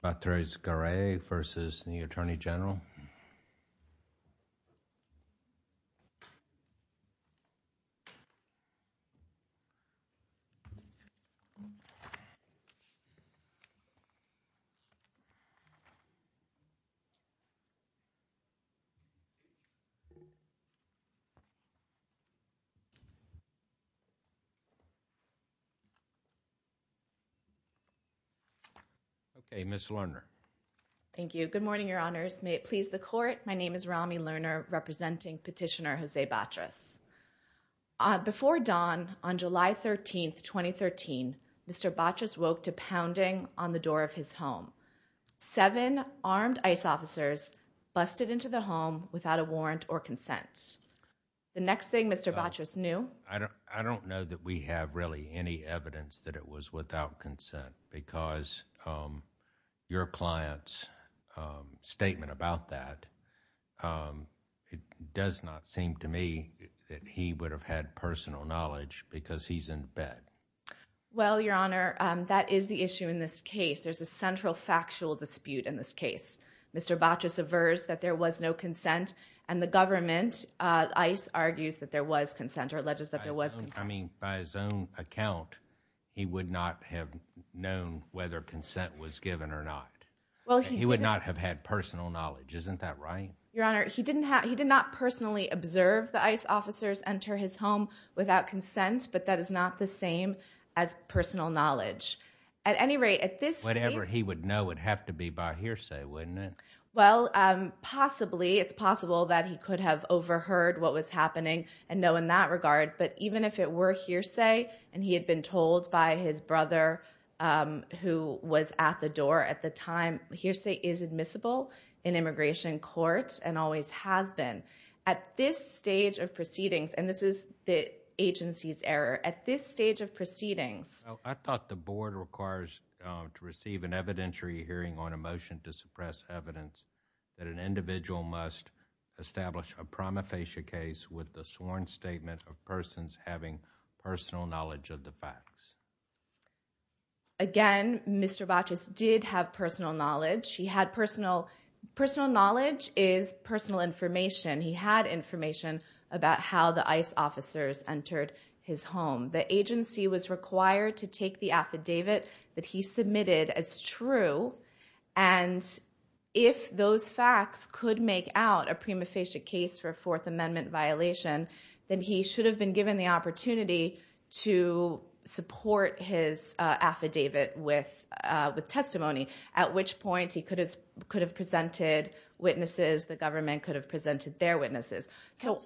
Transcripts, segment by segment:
Patrice Garay versus the Attorney General. Okay, Ms. Lerner. Thank you. Good morning, Your Honors. May it please the Court. My name is Rami Lerner, representing Petitioner Jose Batris. Before dawn on July 13, 2013, Mr. Batris woke to pounding on the door of his home. Seven armed ICE officers busted into the home without a warrant or consent. The next thing Mr. Batris knew... I don't know that we have really any evidence that it was without consent because your clients statement about that, it does not seem to me that he would have had personal knowledge because he's in bed. Well, Your Honor, that is the issue in this case. There's a central factual dispute in this case. Mr. Batris aversed that there was no consent and the government, ICE, argues that there was consent or alleges that there was consent. I mean, by his own account, he would not have known whether consent was given or not. He would not have had personal knowledge. Isn't that right? Your Honor, he did not personally observe the ICE officers enter his home without consent, but that is not the same as personal knowledge. At any rate, at this case... Whatever he would know would have to be by hearsay, wouldn't it? Well, possibly, it's possible that he could have overheard what was happening and know in that regard, but even if it were hearsay and he had been told by his brother who was at the door at the time, hearsay is admissible in immigration court and always has been. At this stage of proceedings, and this is the agency's error, at this stage of proceedings... Well, I thought the board requires to receive an evidentiary hearing on a motion to suppress evidence that an individual must establish a prima facie case with the sworn statement of persons having personal knowledge of the facts. Again, Mr. Baches did have personal knowledge. He had personal... personal knowledge is personal information. He had information about how the ICE officers entered his home. The agency was required to take the affidavit that he submitted as true, and if those facts could make out a prima facie case for a Fourth Amendment violation, then he should have been given the opportunity to support his affidavit with testimony, at which point, he could have presented witnesses, the government could have presented their witnesses.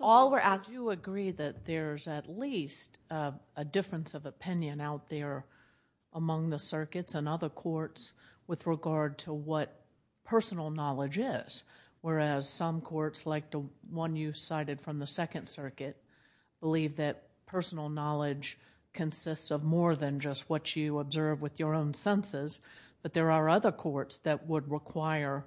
All we're asking... Do you agree that there's at least a difference of opinion out there among the circuits and other courts with regard to what personal knowledge is, whereas some courts like the one you cited from the Second Circuit believe that personal knowledge consists of more than just what you observe with your own senses, but there are other courts that would require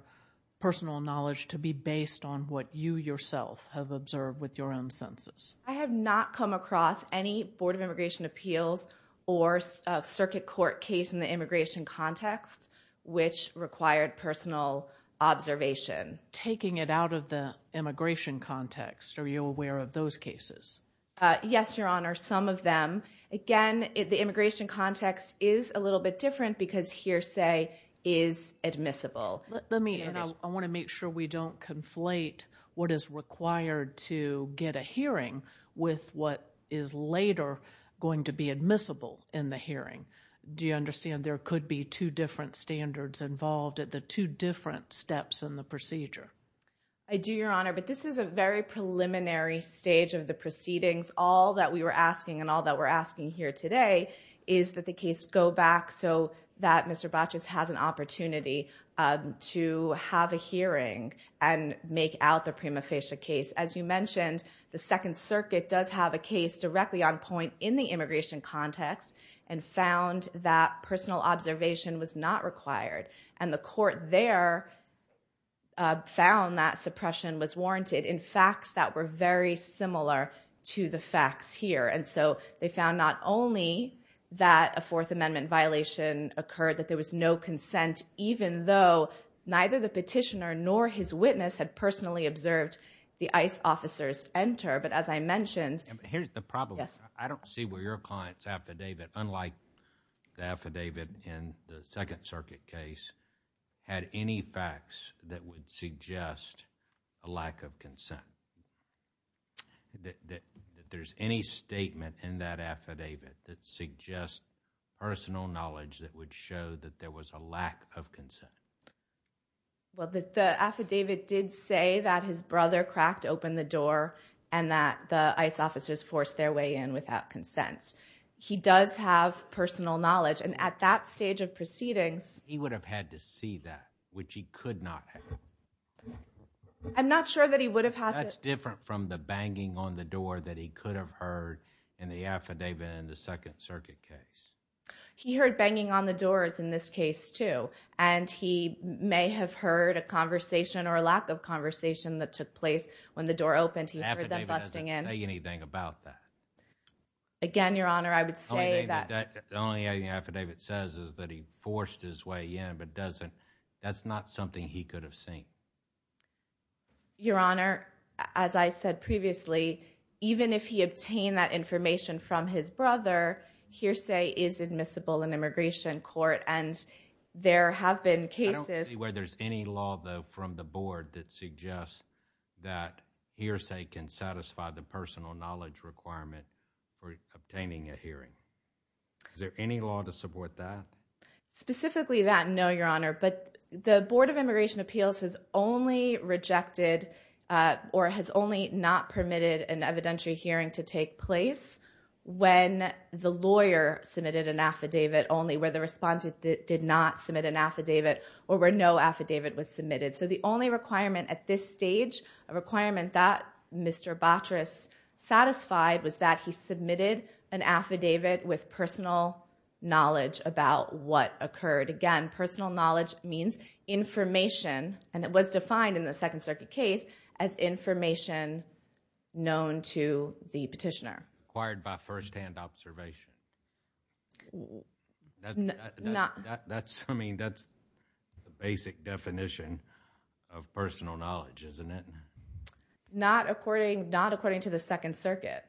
personal knowledge to be based on what you yourself have observed with your own senses? I have not come across any Board of Immigration Appeals or Circuit Court case in the immigration context which required personal observation. Taking it out of the immigration context, are you aware of those cases? Yes, Your Honor, some of them. Again, the immigration context is a little bit different because hearsay is admissible. I want to make sure we don't conflate what is required to get a hearing with what is later going to be admissible in the hearing. Do you understand there could be two different standards involved at the two different steps in the procedure? I do, Your Honor, but this is a very preliminary stage of the proceedings. All that we were asking and all that we're asking here today is that the case go back so that Mr. Baches has an opportunity to have a hearing and make out the prima facie case. As you mentioned, the Second Circuit does have a case directly on point in the immigration context and found that personal observation was not required. The court there found that suppression was warranted in facts that were very similar to the facts here. They found not only that a Fourth Amendment violation occurred, that there was no consent even though neither the petitioner nor his witness had personally observed the ICE officers enter. As I mentioned... Here's the problem. I don't see where your client's affidavit, unlike the affidavit in the Second Circuit case, had any facts that would suggest a lack of consent. There's any statement in that affidavit that suggests personal knowledge that would show that there was a lack of consent. Well, the affidavit did say that his brother cracked open the door and that the ICE officers forced their way in without consent. He does have personal knowledge and at that stage of proceedings... He would have had to see that, which he could not have. I'm not sure that he would have had to... That's different from the banging on the door that he could have heard in the affidavit in the Second Circuit case. He heard banging on the doors in this case, too, and he may have heard a conversation or a lack of conversation that took place when the door opened. He heard them busting in. The affidavit doesn't say anything about that. Again, Your Honor, I would say that... The only thing the affidavit says is that he forced his way in, but that's not something he could have seen. Your Honor, as I said previously, even if he obtained that information from his brother, hearsay is admissible in immigration court and there have been cases... I don't see where there's any law, though, from the Board that suggests that hearsay can satisfy the personal knowledge requirement for obtaining a hearing. Is there any law to support that? Specifically that, no, Your Honor, but the Board of Immigration Appeals has only rejected or has only not permitted an evidentiary hearing to take place when the lawyer submitted an affidavit only, where the respondent did not submit an affidavit, or where no affidavit was submitted. So the only requirement at this stage, a requirement that Mr. Botris satisfied, was that he submitted an affidavit with personal knowledge about what occurred. Again, personal knowledge means information, and it was defined in the Second Circuit case as information known to the petitioner. Acquired by first-hand observation. I mean, that's the basic definition of personal knowledge, isn't it? Not according to the Second Circuit.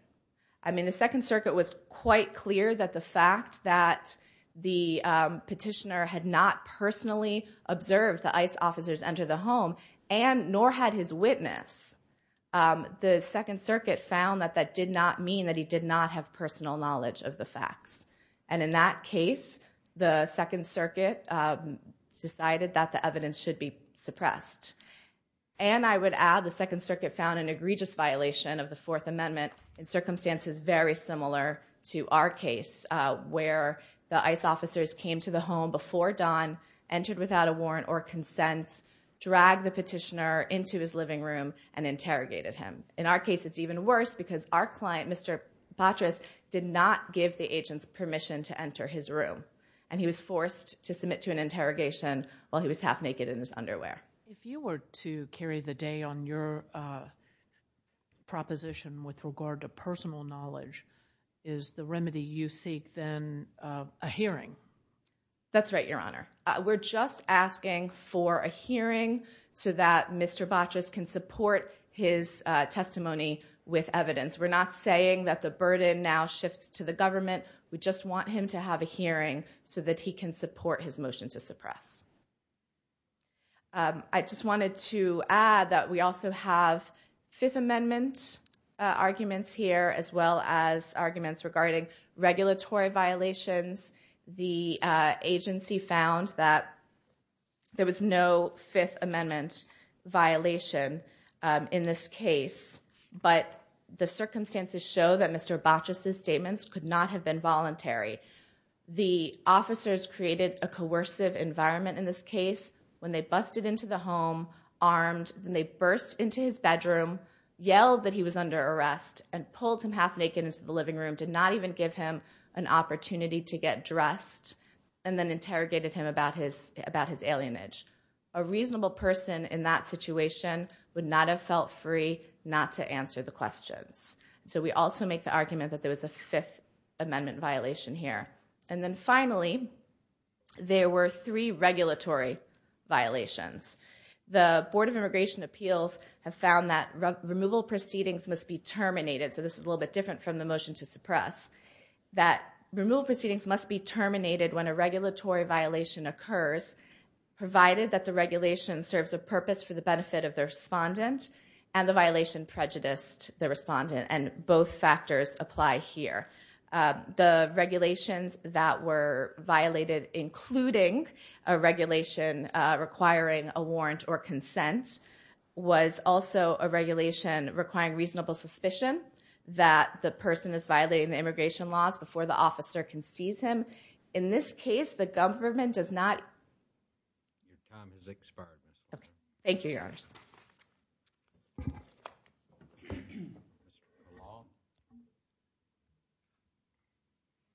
I mean, the Second Circuit was quite clear that the fact that the petitioner had not personally observed the ICE officers enter the home, and nor had his witness, the Second Circuit found that that did not mean that he did not have personal knowledge of the facts. And in that case, the Second Circuit decided that the evidence should be suppressed. And I would add, the Second Circuit found an egregious violation of the Fourth Amendment in circumstances very similar to our case, where the ICE officers came to the home before dawn, entered without a warrant or consent, dragged the petitioner into his living room, and interrogated him. In our case, it's even worse, because our client, Mr. Botris, did not give the agent permission to enter his room. And he was forced to submit to an interrogation while he was half-naked in his underwear. If you were to carry the day on your proposition with regard to personal knowledge, is the remedy you seek then a hearing? That's right, Your Honor. We're just asking for a hearing so that Mr. Botris can support his testimony with evidence. We're not saying that the burden now shifts to the government. We just want him to have a hearing so that he can support his motion to suppress. I just wanted to add that we also have Fifth Amendment arguments here, as well as arguments regarding regulatory violations. The agency found that there was no Fifth Amendment violation in this case. But the circumstances show that Mr. Botris' statements could not have been voluntary. The officers created a coercive environment in this case when they busted into the home, armed, and they burst into his bedroom, yelled that he was under arrest, and pulled him half-naked into the living room, did not even give him an opportunity to get dressed, and then interrogated him about his alienage. A reasonable person in that situation would not have felt free not to answer the questions. So we also make the argument that there was a Fifth Amendment violation here. And then finally, there were three regulatory violations. The Board of Immigration Appeals have found that removal proceedings must be terminated, so this is a little bit different from the motion to suppress, that removal proceedings must be terminated when a regulatory violation occurs, provided that the regulation serves a purpose for the benefit of the respondent, and the violation prejudiced the respondent, and both factors apply here. The regulations that were violated, including a regulation requiring a warrant or consent, was also a regulation requiring reasonable suspicion that the person is violating the immigration laws before the officer can seize him. In this case, the government does not... Your time has expired. Okay, thank you, Your Honors. Good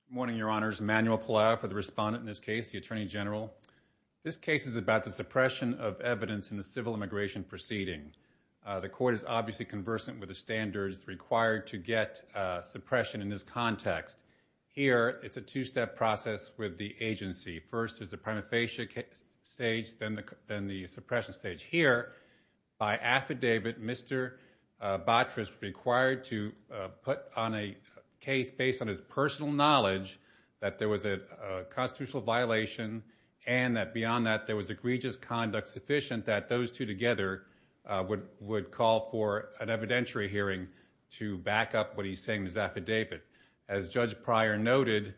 morning, Your Honors. Manuel Pelao for the respondent in this case, the Attorney General. This case is about the suppression of evidence in the civil immigration proceeding. The court is obviously conversant with the standards required to get suppression in this context. Here, it's a two-step process with the agency. First, there's a prima facie case stage, then the suppression stage. Here, by affidavit, Mr. Botris was required to put on a case based on his personal knowledge that there was a constitutional violation, and that beyond that, there was egregious conduct sufficient that those two together would call for an evidentiary hearing to back up what he's saying is affidavit. As Judge Pryor noted,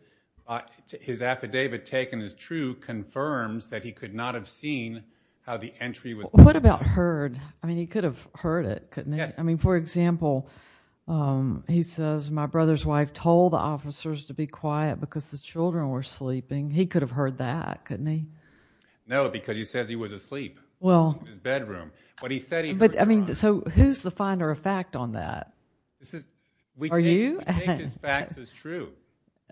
his affidavit taken as true confirms that he could not have seen how the entry was... What about heard? I mean, he could have heard it, couldn't he? Yes. I mean, for example, he says, my brother's wife told the officers to be quiet because the children were sleeping. He could have heard that, couldn't he? No, because he says he was asleep in his bedroom. But he said he heard... I mean, so who's the finder of fact on that? This is... Are you? I think his facts is true.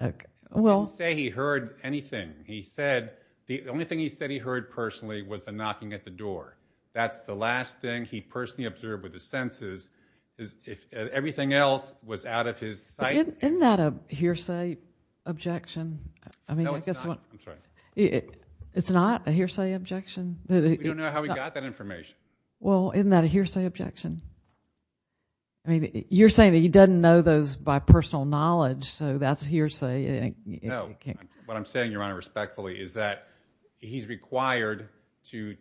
He didn't say he heard anything. He said the only thing he said he heard personally was the knocking at the door. That's the last thing he personally observed with his senses. Everything else was out of his sight. Isn't that a hearsay objection? No, it's not. I'm sorry. It's not a hearsay objection? We don't know how he got that information. Well, isn't that a hearsay objection? I mean, you're saying that he doesn't know those by personal knowledge, so that's hearsay. No. What I'm saying, Your Honor, respectfully, is that he's required to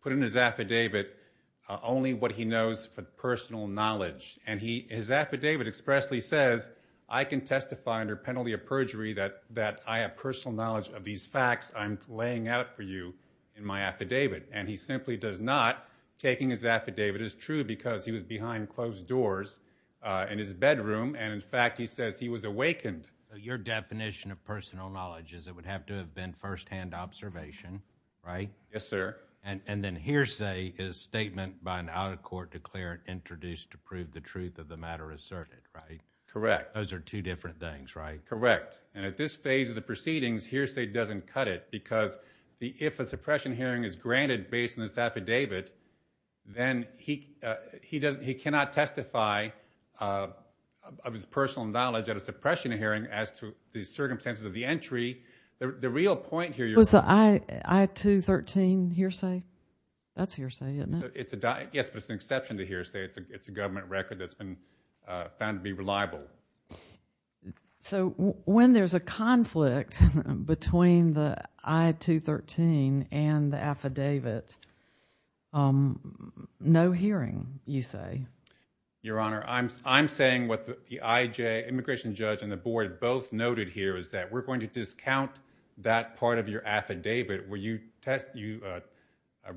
put in his affidavit only what he knows for personal knowledge. And his affidavit expressly says, I can testify under penalty of perjury that I have personal knowledge of these facts I'm laying out for you in my affidavit. And he simply does not. Taking his affidavit is true because he was behind closed doors in his bedroom, and in fact, he says he was awakened. Your definition of personal knowledge is it would have to have been first-hand observation, right? Yes, sir. And then hearsay is a statement by an out-of-court declarant introduced to prove the truth of the matter asserted, right? Correct. Those are two different things, right? Correct. And at this phase of the proceedings, hearsay doesn't cut it because if a suppression hearing is granted based on this affidavit, then he cannot testify of his personal knowledge at a suppression hearing as to the circumstances of the entry. The real point here, Your Honor... Was the I-213 hearsay? That's hearsay, isn't it? Yes, but it's an exception to hearsay. It's a government record that's been found to be reliable. So, when there's a conflict between the I-213 and the affidavit, no hearing, you say? Your Honor, I'm saying what the IJ, immigration judge, and the board both noted here is that we're going to discount that part of your affidavit where you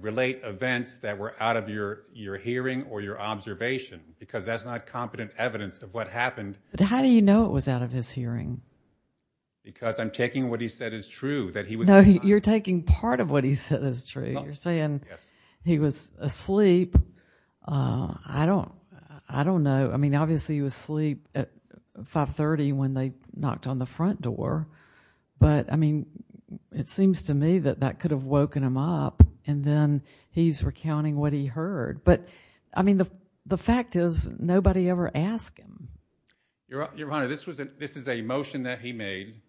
relate events that were out of your hearing or your observation because that's not competent evidence of what happened. But how do you know it was out of his hearing? Because I'm taking what he said is true. No, you're taking part of what he said is true. You're saying he was asleep. I don't know. I mean, obviously, he was asleep at 530 when they knocked on the front door. But, I mean, it seems to me that that could have woken him up and then he's recounting what he heard. But, I mean, the fact is nobody ever asked him. Your Honor, this is a motion that he made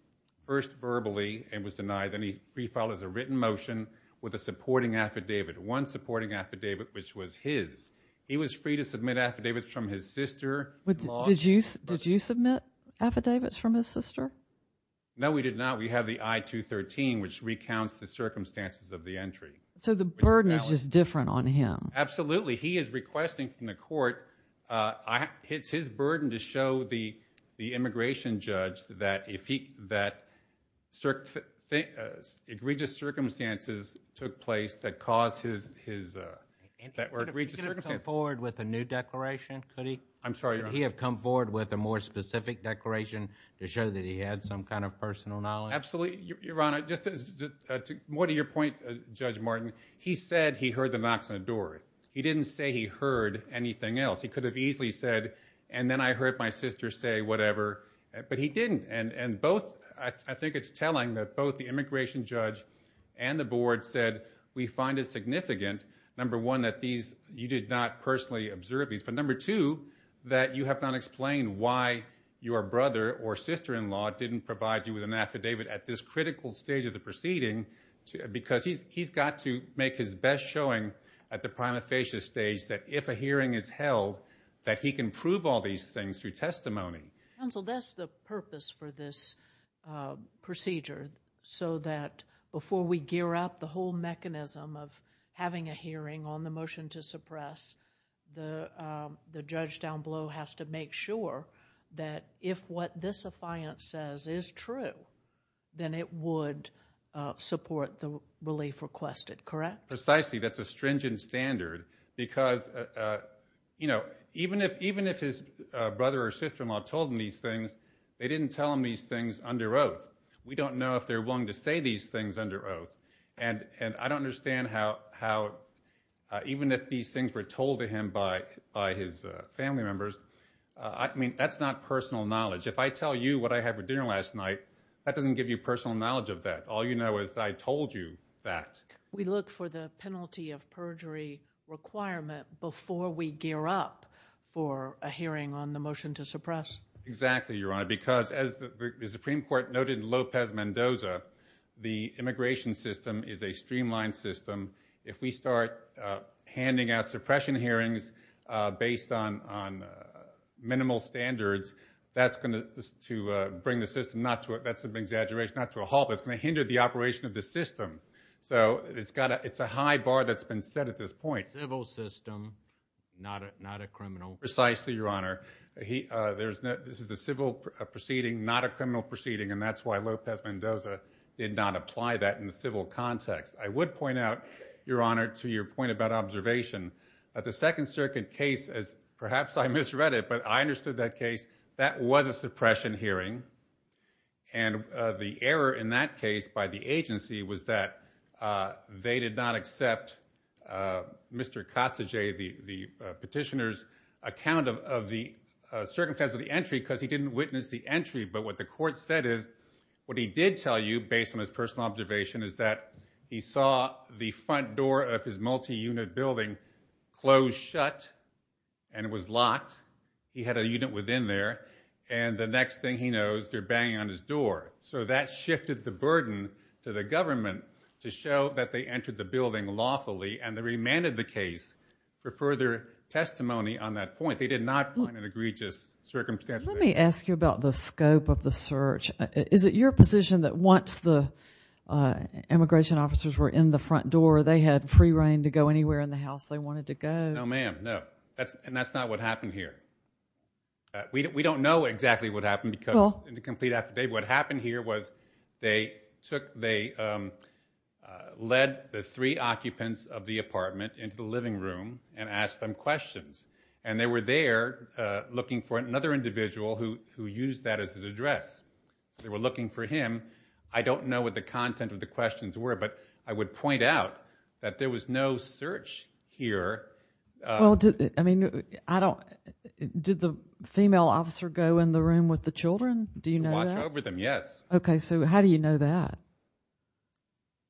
first verbally and was denied. Then he refiled as a written motion with a supporting affidavit. One supporting affidavit, which was his. He was free to submit affidavits from his sister. Did you submit affidavits from his sister? No, we did not. We have the I-213, which recounts the circumstances of the entry. So the burden is just different on him. Absolutely. He is requesting from the court, it's his burden to show the immigration judge that egregious circumstances took place that were egregious circumstances. Could he have come forward with a new declaration? Could he? I'm sorry, Your Honor. Could he have come forward with a more specific declaration to show that he had some kind of personal knowledge? Absolutely, Your Honor. More to your point, Judge Martin, he said he heard the knocks on the door. He didn't say he heard anything else. He could have easily said, and then I heard my sister say whatever, but he didn't. And both, I think it's telling that both the immigration judge and the board said we find it significant, number one, that you did not personally observe these, but number two, that you have not explained why your brother or sister-in-law didn't provide you with an affidavit at this critical stage of the proceeding because he's got to make his best showing at the prima facie stage that if a hearing is held, that he can prove all these things through testimony. Counsel, that's the purpose for this procedure so that before we gear up the whole mechanism of having a hearing on the motion to suppress, the judge down below has to make sure that if what this affiant says is true, then it would support the relief requested, correct? Precisely. That's a stringent standard because, you know, even if his brother or sister-in-law told him these things, they didn't tell him these things under oath. We don't know if they're willing to say these things under oath. And I don't understand how, even if these things were told to him by his family members, I mean, that's not personal knowledge. If I tell you what I had for dinner last night, that doesn't give you personal knowledge of that. All you know is that I told you that. We look for the penalty of perjury requirement before we gear up for a hearing on the motion to suppress. Exactly, Your Honor, because as the Supreme Court noted in Lopez Mendoza, the immigration system is a streamlined system. If we start handing out suppression hearings based on minimal standards, that's going to bring the system, that's an exaggeration, not to a halt, but it's going to hinder the operation of the system. So it's a high bar that's been set at this point. Civil system, not a criminal. Precisely, Your Honor. This is a civil proceeding, not a criminal proceeding, and that's why Lopez Mendoza did not apply that in the civil context. I would point out, Your Honor, to your point about observation, the Second Circuit case, perhaps I misread it, but I understood that case. That was a suppression hearing, and the error in that case by the agency was that they did not accept Mr. Katsuje, the petitioner's account of the circumstances of the entry because he didn't witness the entry. But what the court said is, what he did tell you, based on his personal observation, is that he saw the front door of his multi-unit building close shut and it was locked. He had a unit within there, and the next thing he knows, they're banging on his door. So that shifted the burden to the government to show that they entered the building lawfully, and they remanded the case for further testimony on that point. They did not find an egregious circumstance. Let me ask you about the scope of the search. Is it your position that once the immigration officers were in the front door, they had free reign to go anywhere in the house they wanted to go? No, ma'am, no. And that's not what happened here. We don't know exactly what happened because in the complete affidavit, what happened here was they led the three occupants of the apartment into the living room and asked them questions. And they were there looking for another individual who used that as his address. They were looking for him. I don't know what the content of the questions were, but I would point out that there was no search here. Did the female officer go in the room with the children? Do you know that? Watch over them, yes. Okay, so how do you know that?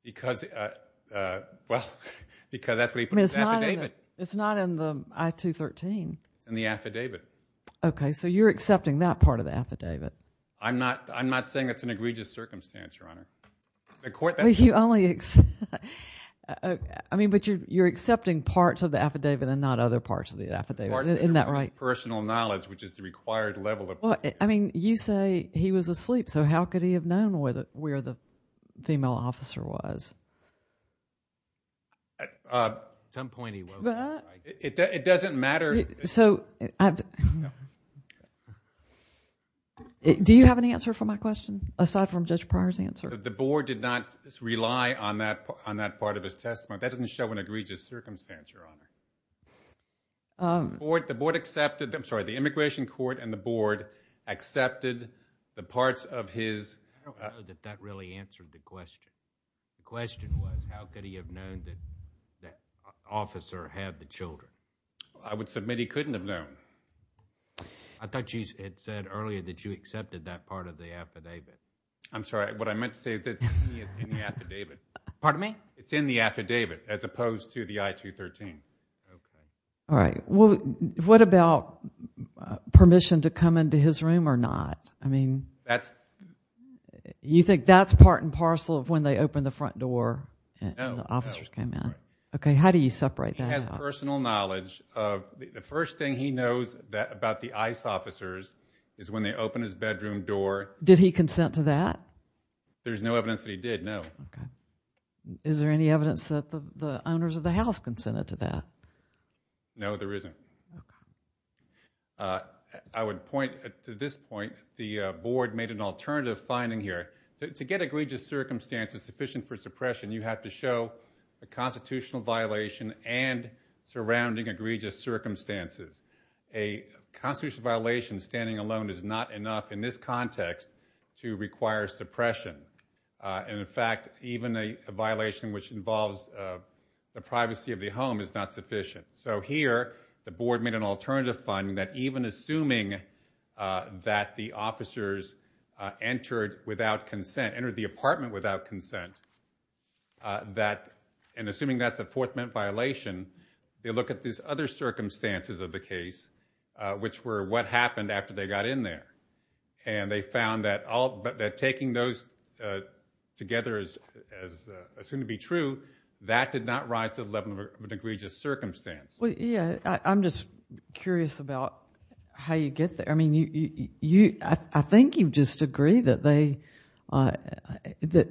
Because that's what he put in his affidavit. It's not in the I-213. It's in the affidavit. Okay, so you're accepting that part of the affidavit. I'm not saying it's an egregious circumstance, Your Honor. The court... I mean, but you're accepting parts of the affidavit and not other parts of the affidavit. Isn't that right? Personal knowledge, which is the required level of... I mean, you say he was asleep, so how could he have known where the female officer was? At some point, he woke up. It doesn't matter... So... Do you have an answer for my question aside from Judge Pryor's answer? The board did not rely on that part of his testimony. That doesn't show an egregious circumstance, Your Honor. The board accepted... I'm sorry, the immigration court and the board accepted the parts of his... I don't know that that really answered the question. The question was, how could he have known that the officer had the children? I would submit he couldn't have known. I thought you had said earlier that you accepted that part of the affidavit. I'm sorry. What I meant to say is that it's in the affidavit. Pardon me? It's in the affidavit as opposed to the I-213. All right. What about permission to come into his room or not? I mean... That's... You think that's part and parcel of when they opened the front door and the officers came in? No. Okay, how do you separate that out? From my personal knowledge, the first thing he knows about the ICE officers is when they open his bedroom door. Did he consent to that? There's no evidence that he did, no. Okay. Is there any evidence that the owners of the house consented to that? No, there isn't. I would point to this point. The board made an alternative finding here. To get egregious circumstances sufficient for suppression, you have to show a constitutional violation and surrounding egregious circumstances. A constitutional violation standing alone is not enough in this context to require suppression. And in fact, even a violation which involves the privacy of the home is not sufficient. So here, the board made an alternative finding that even assuming that the officers entered without consent, entered the apartment without consent, that... they look at these other circumstances of the case which were what happened after they got in there. And they found that taking those together as assumed to be true, that did not rise to the level of an egregious circumstance. I'm just curious about how you get there. I think you just agree that they... that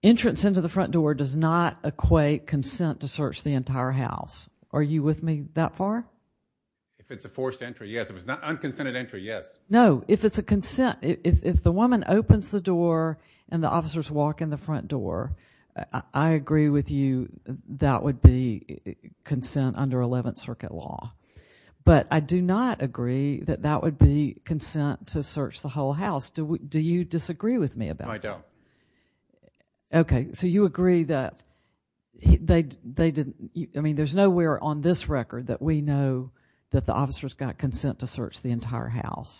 entrance into the front door does not equate consent to search the entire house. Are you with me that far? If it's a forced entry, yes. If it's an unconsented entry, yes. No, if it's a consent, if the woman opens the door and the officers walk in the front door, I agree with you that would be consent under Eleventh Circuit law. But I do not agree that that would be consent to search the whole house. Do you disagree with me about that? No, I don't. Okay, so you agree that they didn't... I mean, there's nowhere on this record that we know that the officers got consent to search the entire house.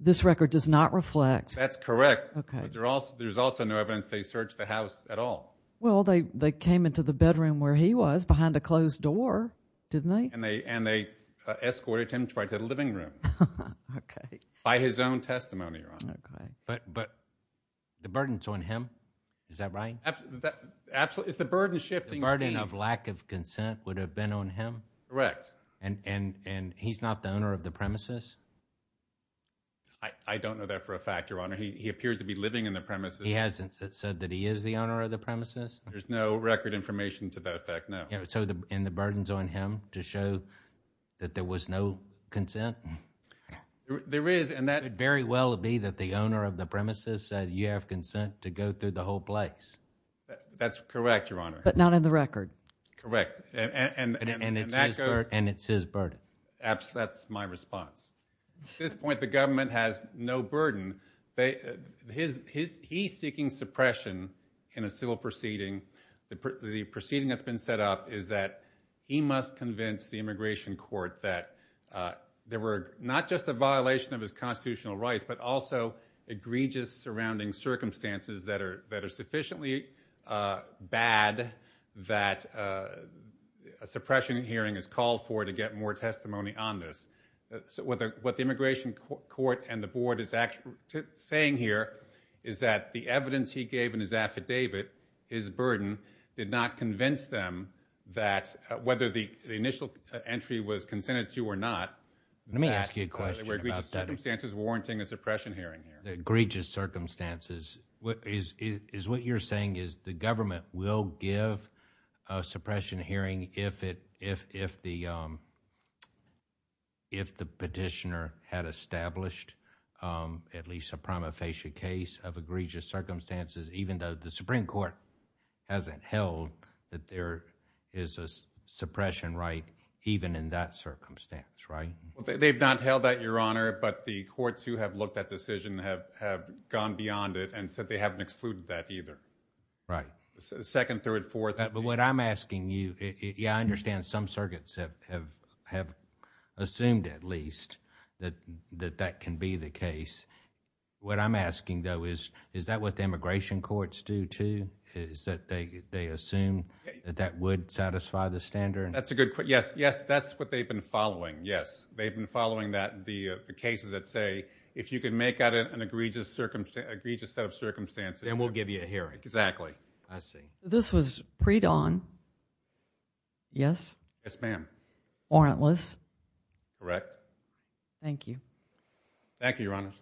This record does not reflect... That's correct, but there's also no evidence they searched the house at all. Well, they came into the bedroom where he was behind a closed door, didn't they? And they escorted him right to the living room. Okay. By his own testimony, Your Honor. But the burden's on him. Is that right? The burden of lack of consent would have been on him? Correct. And he's not the owner of the premises? I don't know that for a fact, Your Honor. He appears to be living in the premises. He hasn't said that he is the owner of the premises? There's no record information to that effect, no. And the burden's on him to show that there was no consent? There is, and that... It could very well be that the owner of the premises said, you have consent to go through the whole place. That's correct, Your Honor. But not in the record. Correct. And it's his burden. That's my response. At this point, the government has no burden. He's seeking suppression in a civil proceeding. The proceeding that's been set up is that he must convince the immigration court that there were not just a violation of his constitutional rights, but also egregious surrounding circumstances that are sufficiently bad that a suppression hearing is called for to get more testimony on this. What the immigration court and the board is actually saying here is that the evidence he gave in his affidavit, his burden, did not convince them that whether the initial entry was consented to or not, there were egregious circumstances warranting a suppression hearing. Egregious circumstances. What you're saying is the government will give a suppression hearing if the petitioner had established at least a prima facie case of egregious circumstances, even though the Supreme Court hasn't held that there is a suppression right even in that circumstance, right? They've not held that, Your Honor, but the courts who have looked at the decision have gone beyond it and said they haven't excluded that either. Right. But what I'm asking you, I understand some circuits have assumed at least that that can be the case. What I'm asking, though, is that what the immigration courts do, too? Is that they assume that that would satisfy the standard? That's a good question. Yes, that's what they've been following, yes. They've been following the cases that say if you can make out an egregious set of circumstances, then we'll give you a hearing. Exactly. I see. This was pre-Dawn? Yes? Yes, ma'am. Warrantless? Correct. Thank you. Thank you, Your Honor.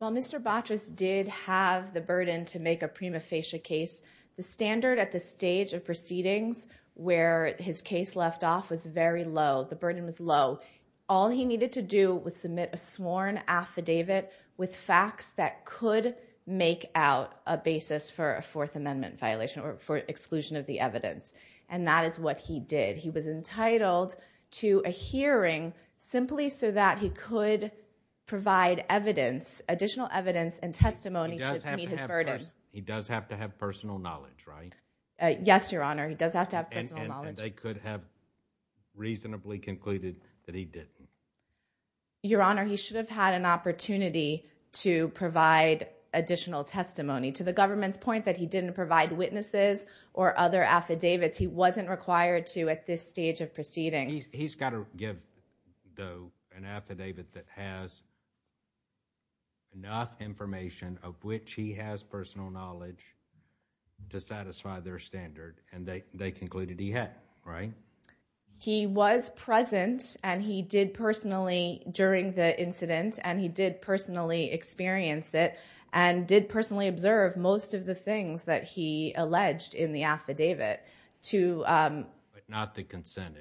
Well, Mr. Batras did have the burden to make a prima facie case. The standard at the stage of proceedings where his case left off was very low. The burden was low. All he needed to do was submit a sworn affidavit with facts that could make out a basis for a Fourth Amendment violation or for exclusion of the evidence. And that is what he did. He was entitled to a hearing simply so that he could provide evidence, additional evidence and testimony to meet his burden. He does have to have personal knowledge, right? Yes, Your Honor. He does have to have personal knowledge. And they could have reasonably concluded that he didn't. Your Honor, he should have had an opportunity to provide additional testimony. To the government's point that he didn't provide witnesses or other affidavits, he wasn't required to at this stage of proceedings. He's got to give though an affidavit that has enough information of which he has personal knowledge to satisfy their standard. And they concluded he had. Right? He was present and he did personally during the incident and he did personally experience it and did personally observe most of the things that he alleged in the affidavit. But not the consent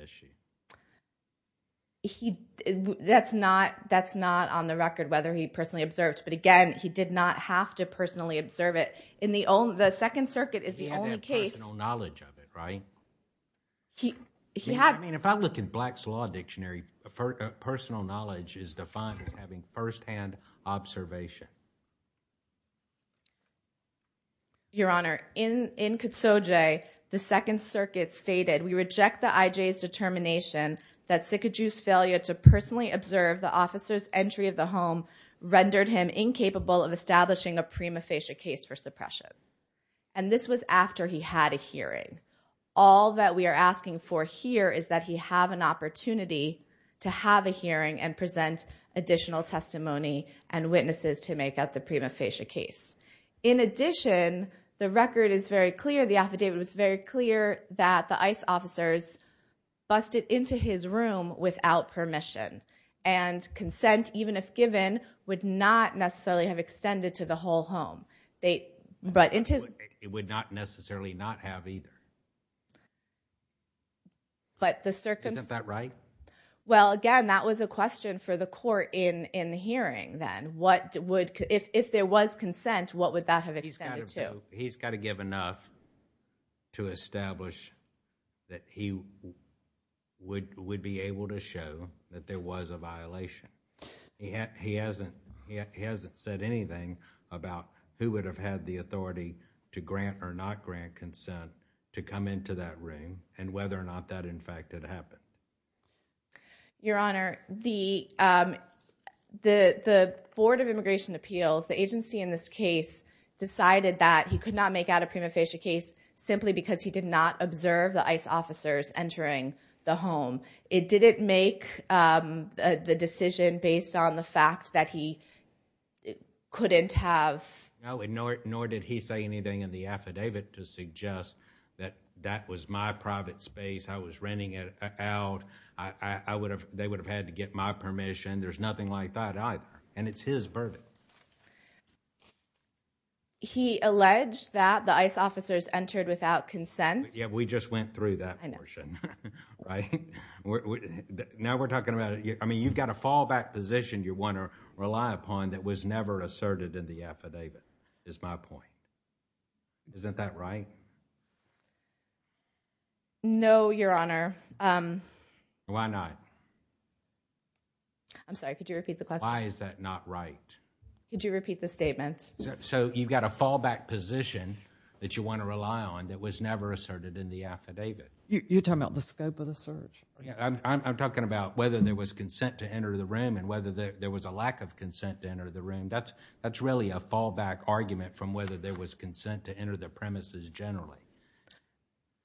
issue. That's not on the record whether he personally observed. But again, he did not have to personally observe it. The Second Circuit is the only case He had to have personal knowledge of it, right? If I look in Black's Law Dictionary, personal knowledge is defined as having first-hand observation. Your Honor, in Katsoje, the Second Circuit stated, we reject the IJ's determination that Sikidu's failure to personally observe the officer's entry of the home rendered him incapable of establishing a prima facie case for suppression. And this was after he had a hearing. All that we are asking for here is that he have an opportunity to have a hearing and present additional testimony and witnesses to make up the prima facie case. In addition, the record is very clear, the affidavit is very clear that the ICE officers busted into his room without permission. And consent, even if given, would not necessarily have extended to the whole home. It would not necessarily not have either. Isn't that right? Well, again, that was a question for the Court in the hearing then. If there was consent, what would that have extended to? He's got to give enough to establish that he would be able to show that there was a violation. He hasn't said anything about who would have had the authority to grant or not grant consent to come into that room and whether or not that in fact had happened. Your Honor, the Board of Immigration Appeals, the agency in this case, decided that he could not make out a prima facie case simply because he did not observe the ICE officers entering the home. Did it make the decision based on the fact that he couldn't have... Nor did he say anything in the affidavit to suggest that that was my private space, I was renting it out, they would have had to get my permission. There's nothing like that either, and it's his verdict. He alleged that the ICE officers entered without consent. We just went through that portion. Now we're talking about it. You've got a fallback position you want to rely upon that was never asserted in the affidavit, is my point. Isn't that right? No, Your Honor. Why not? I'm sorry, could you repeat the question? Why is that not right? Could you repeat the statement? You've got a fallback position that you want to rely on that was never asserted in the affidavit. You're talking about the scope of the search. I'm talking about whether there was consent to enter the room and whether there was a lack of consent to enter the room. That's really a fallback argument from whether there was consent to enter the premises generally.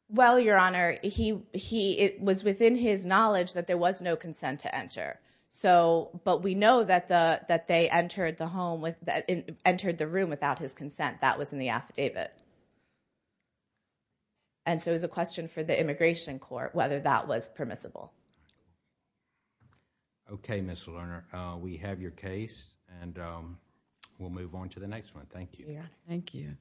Well, Your Honor, it was within his knowledge that there was no consent to enter. But we know that they entered the room without his consent. That was in the affidavit. And so it was a question for the Immigration Court whether that was permissible. Okay, Ms. Lerner. We have your case, and we'll move on to the next one. Thank you. Thank you.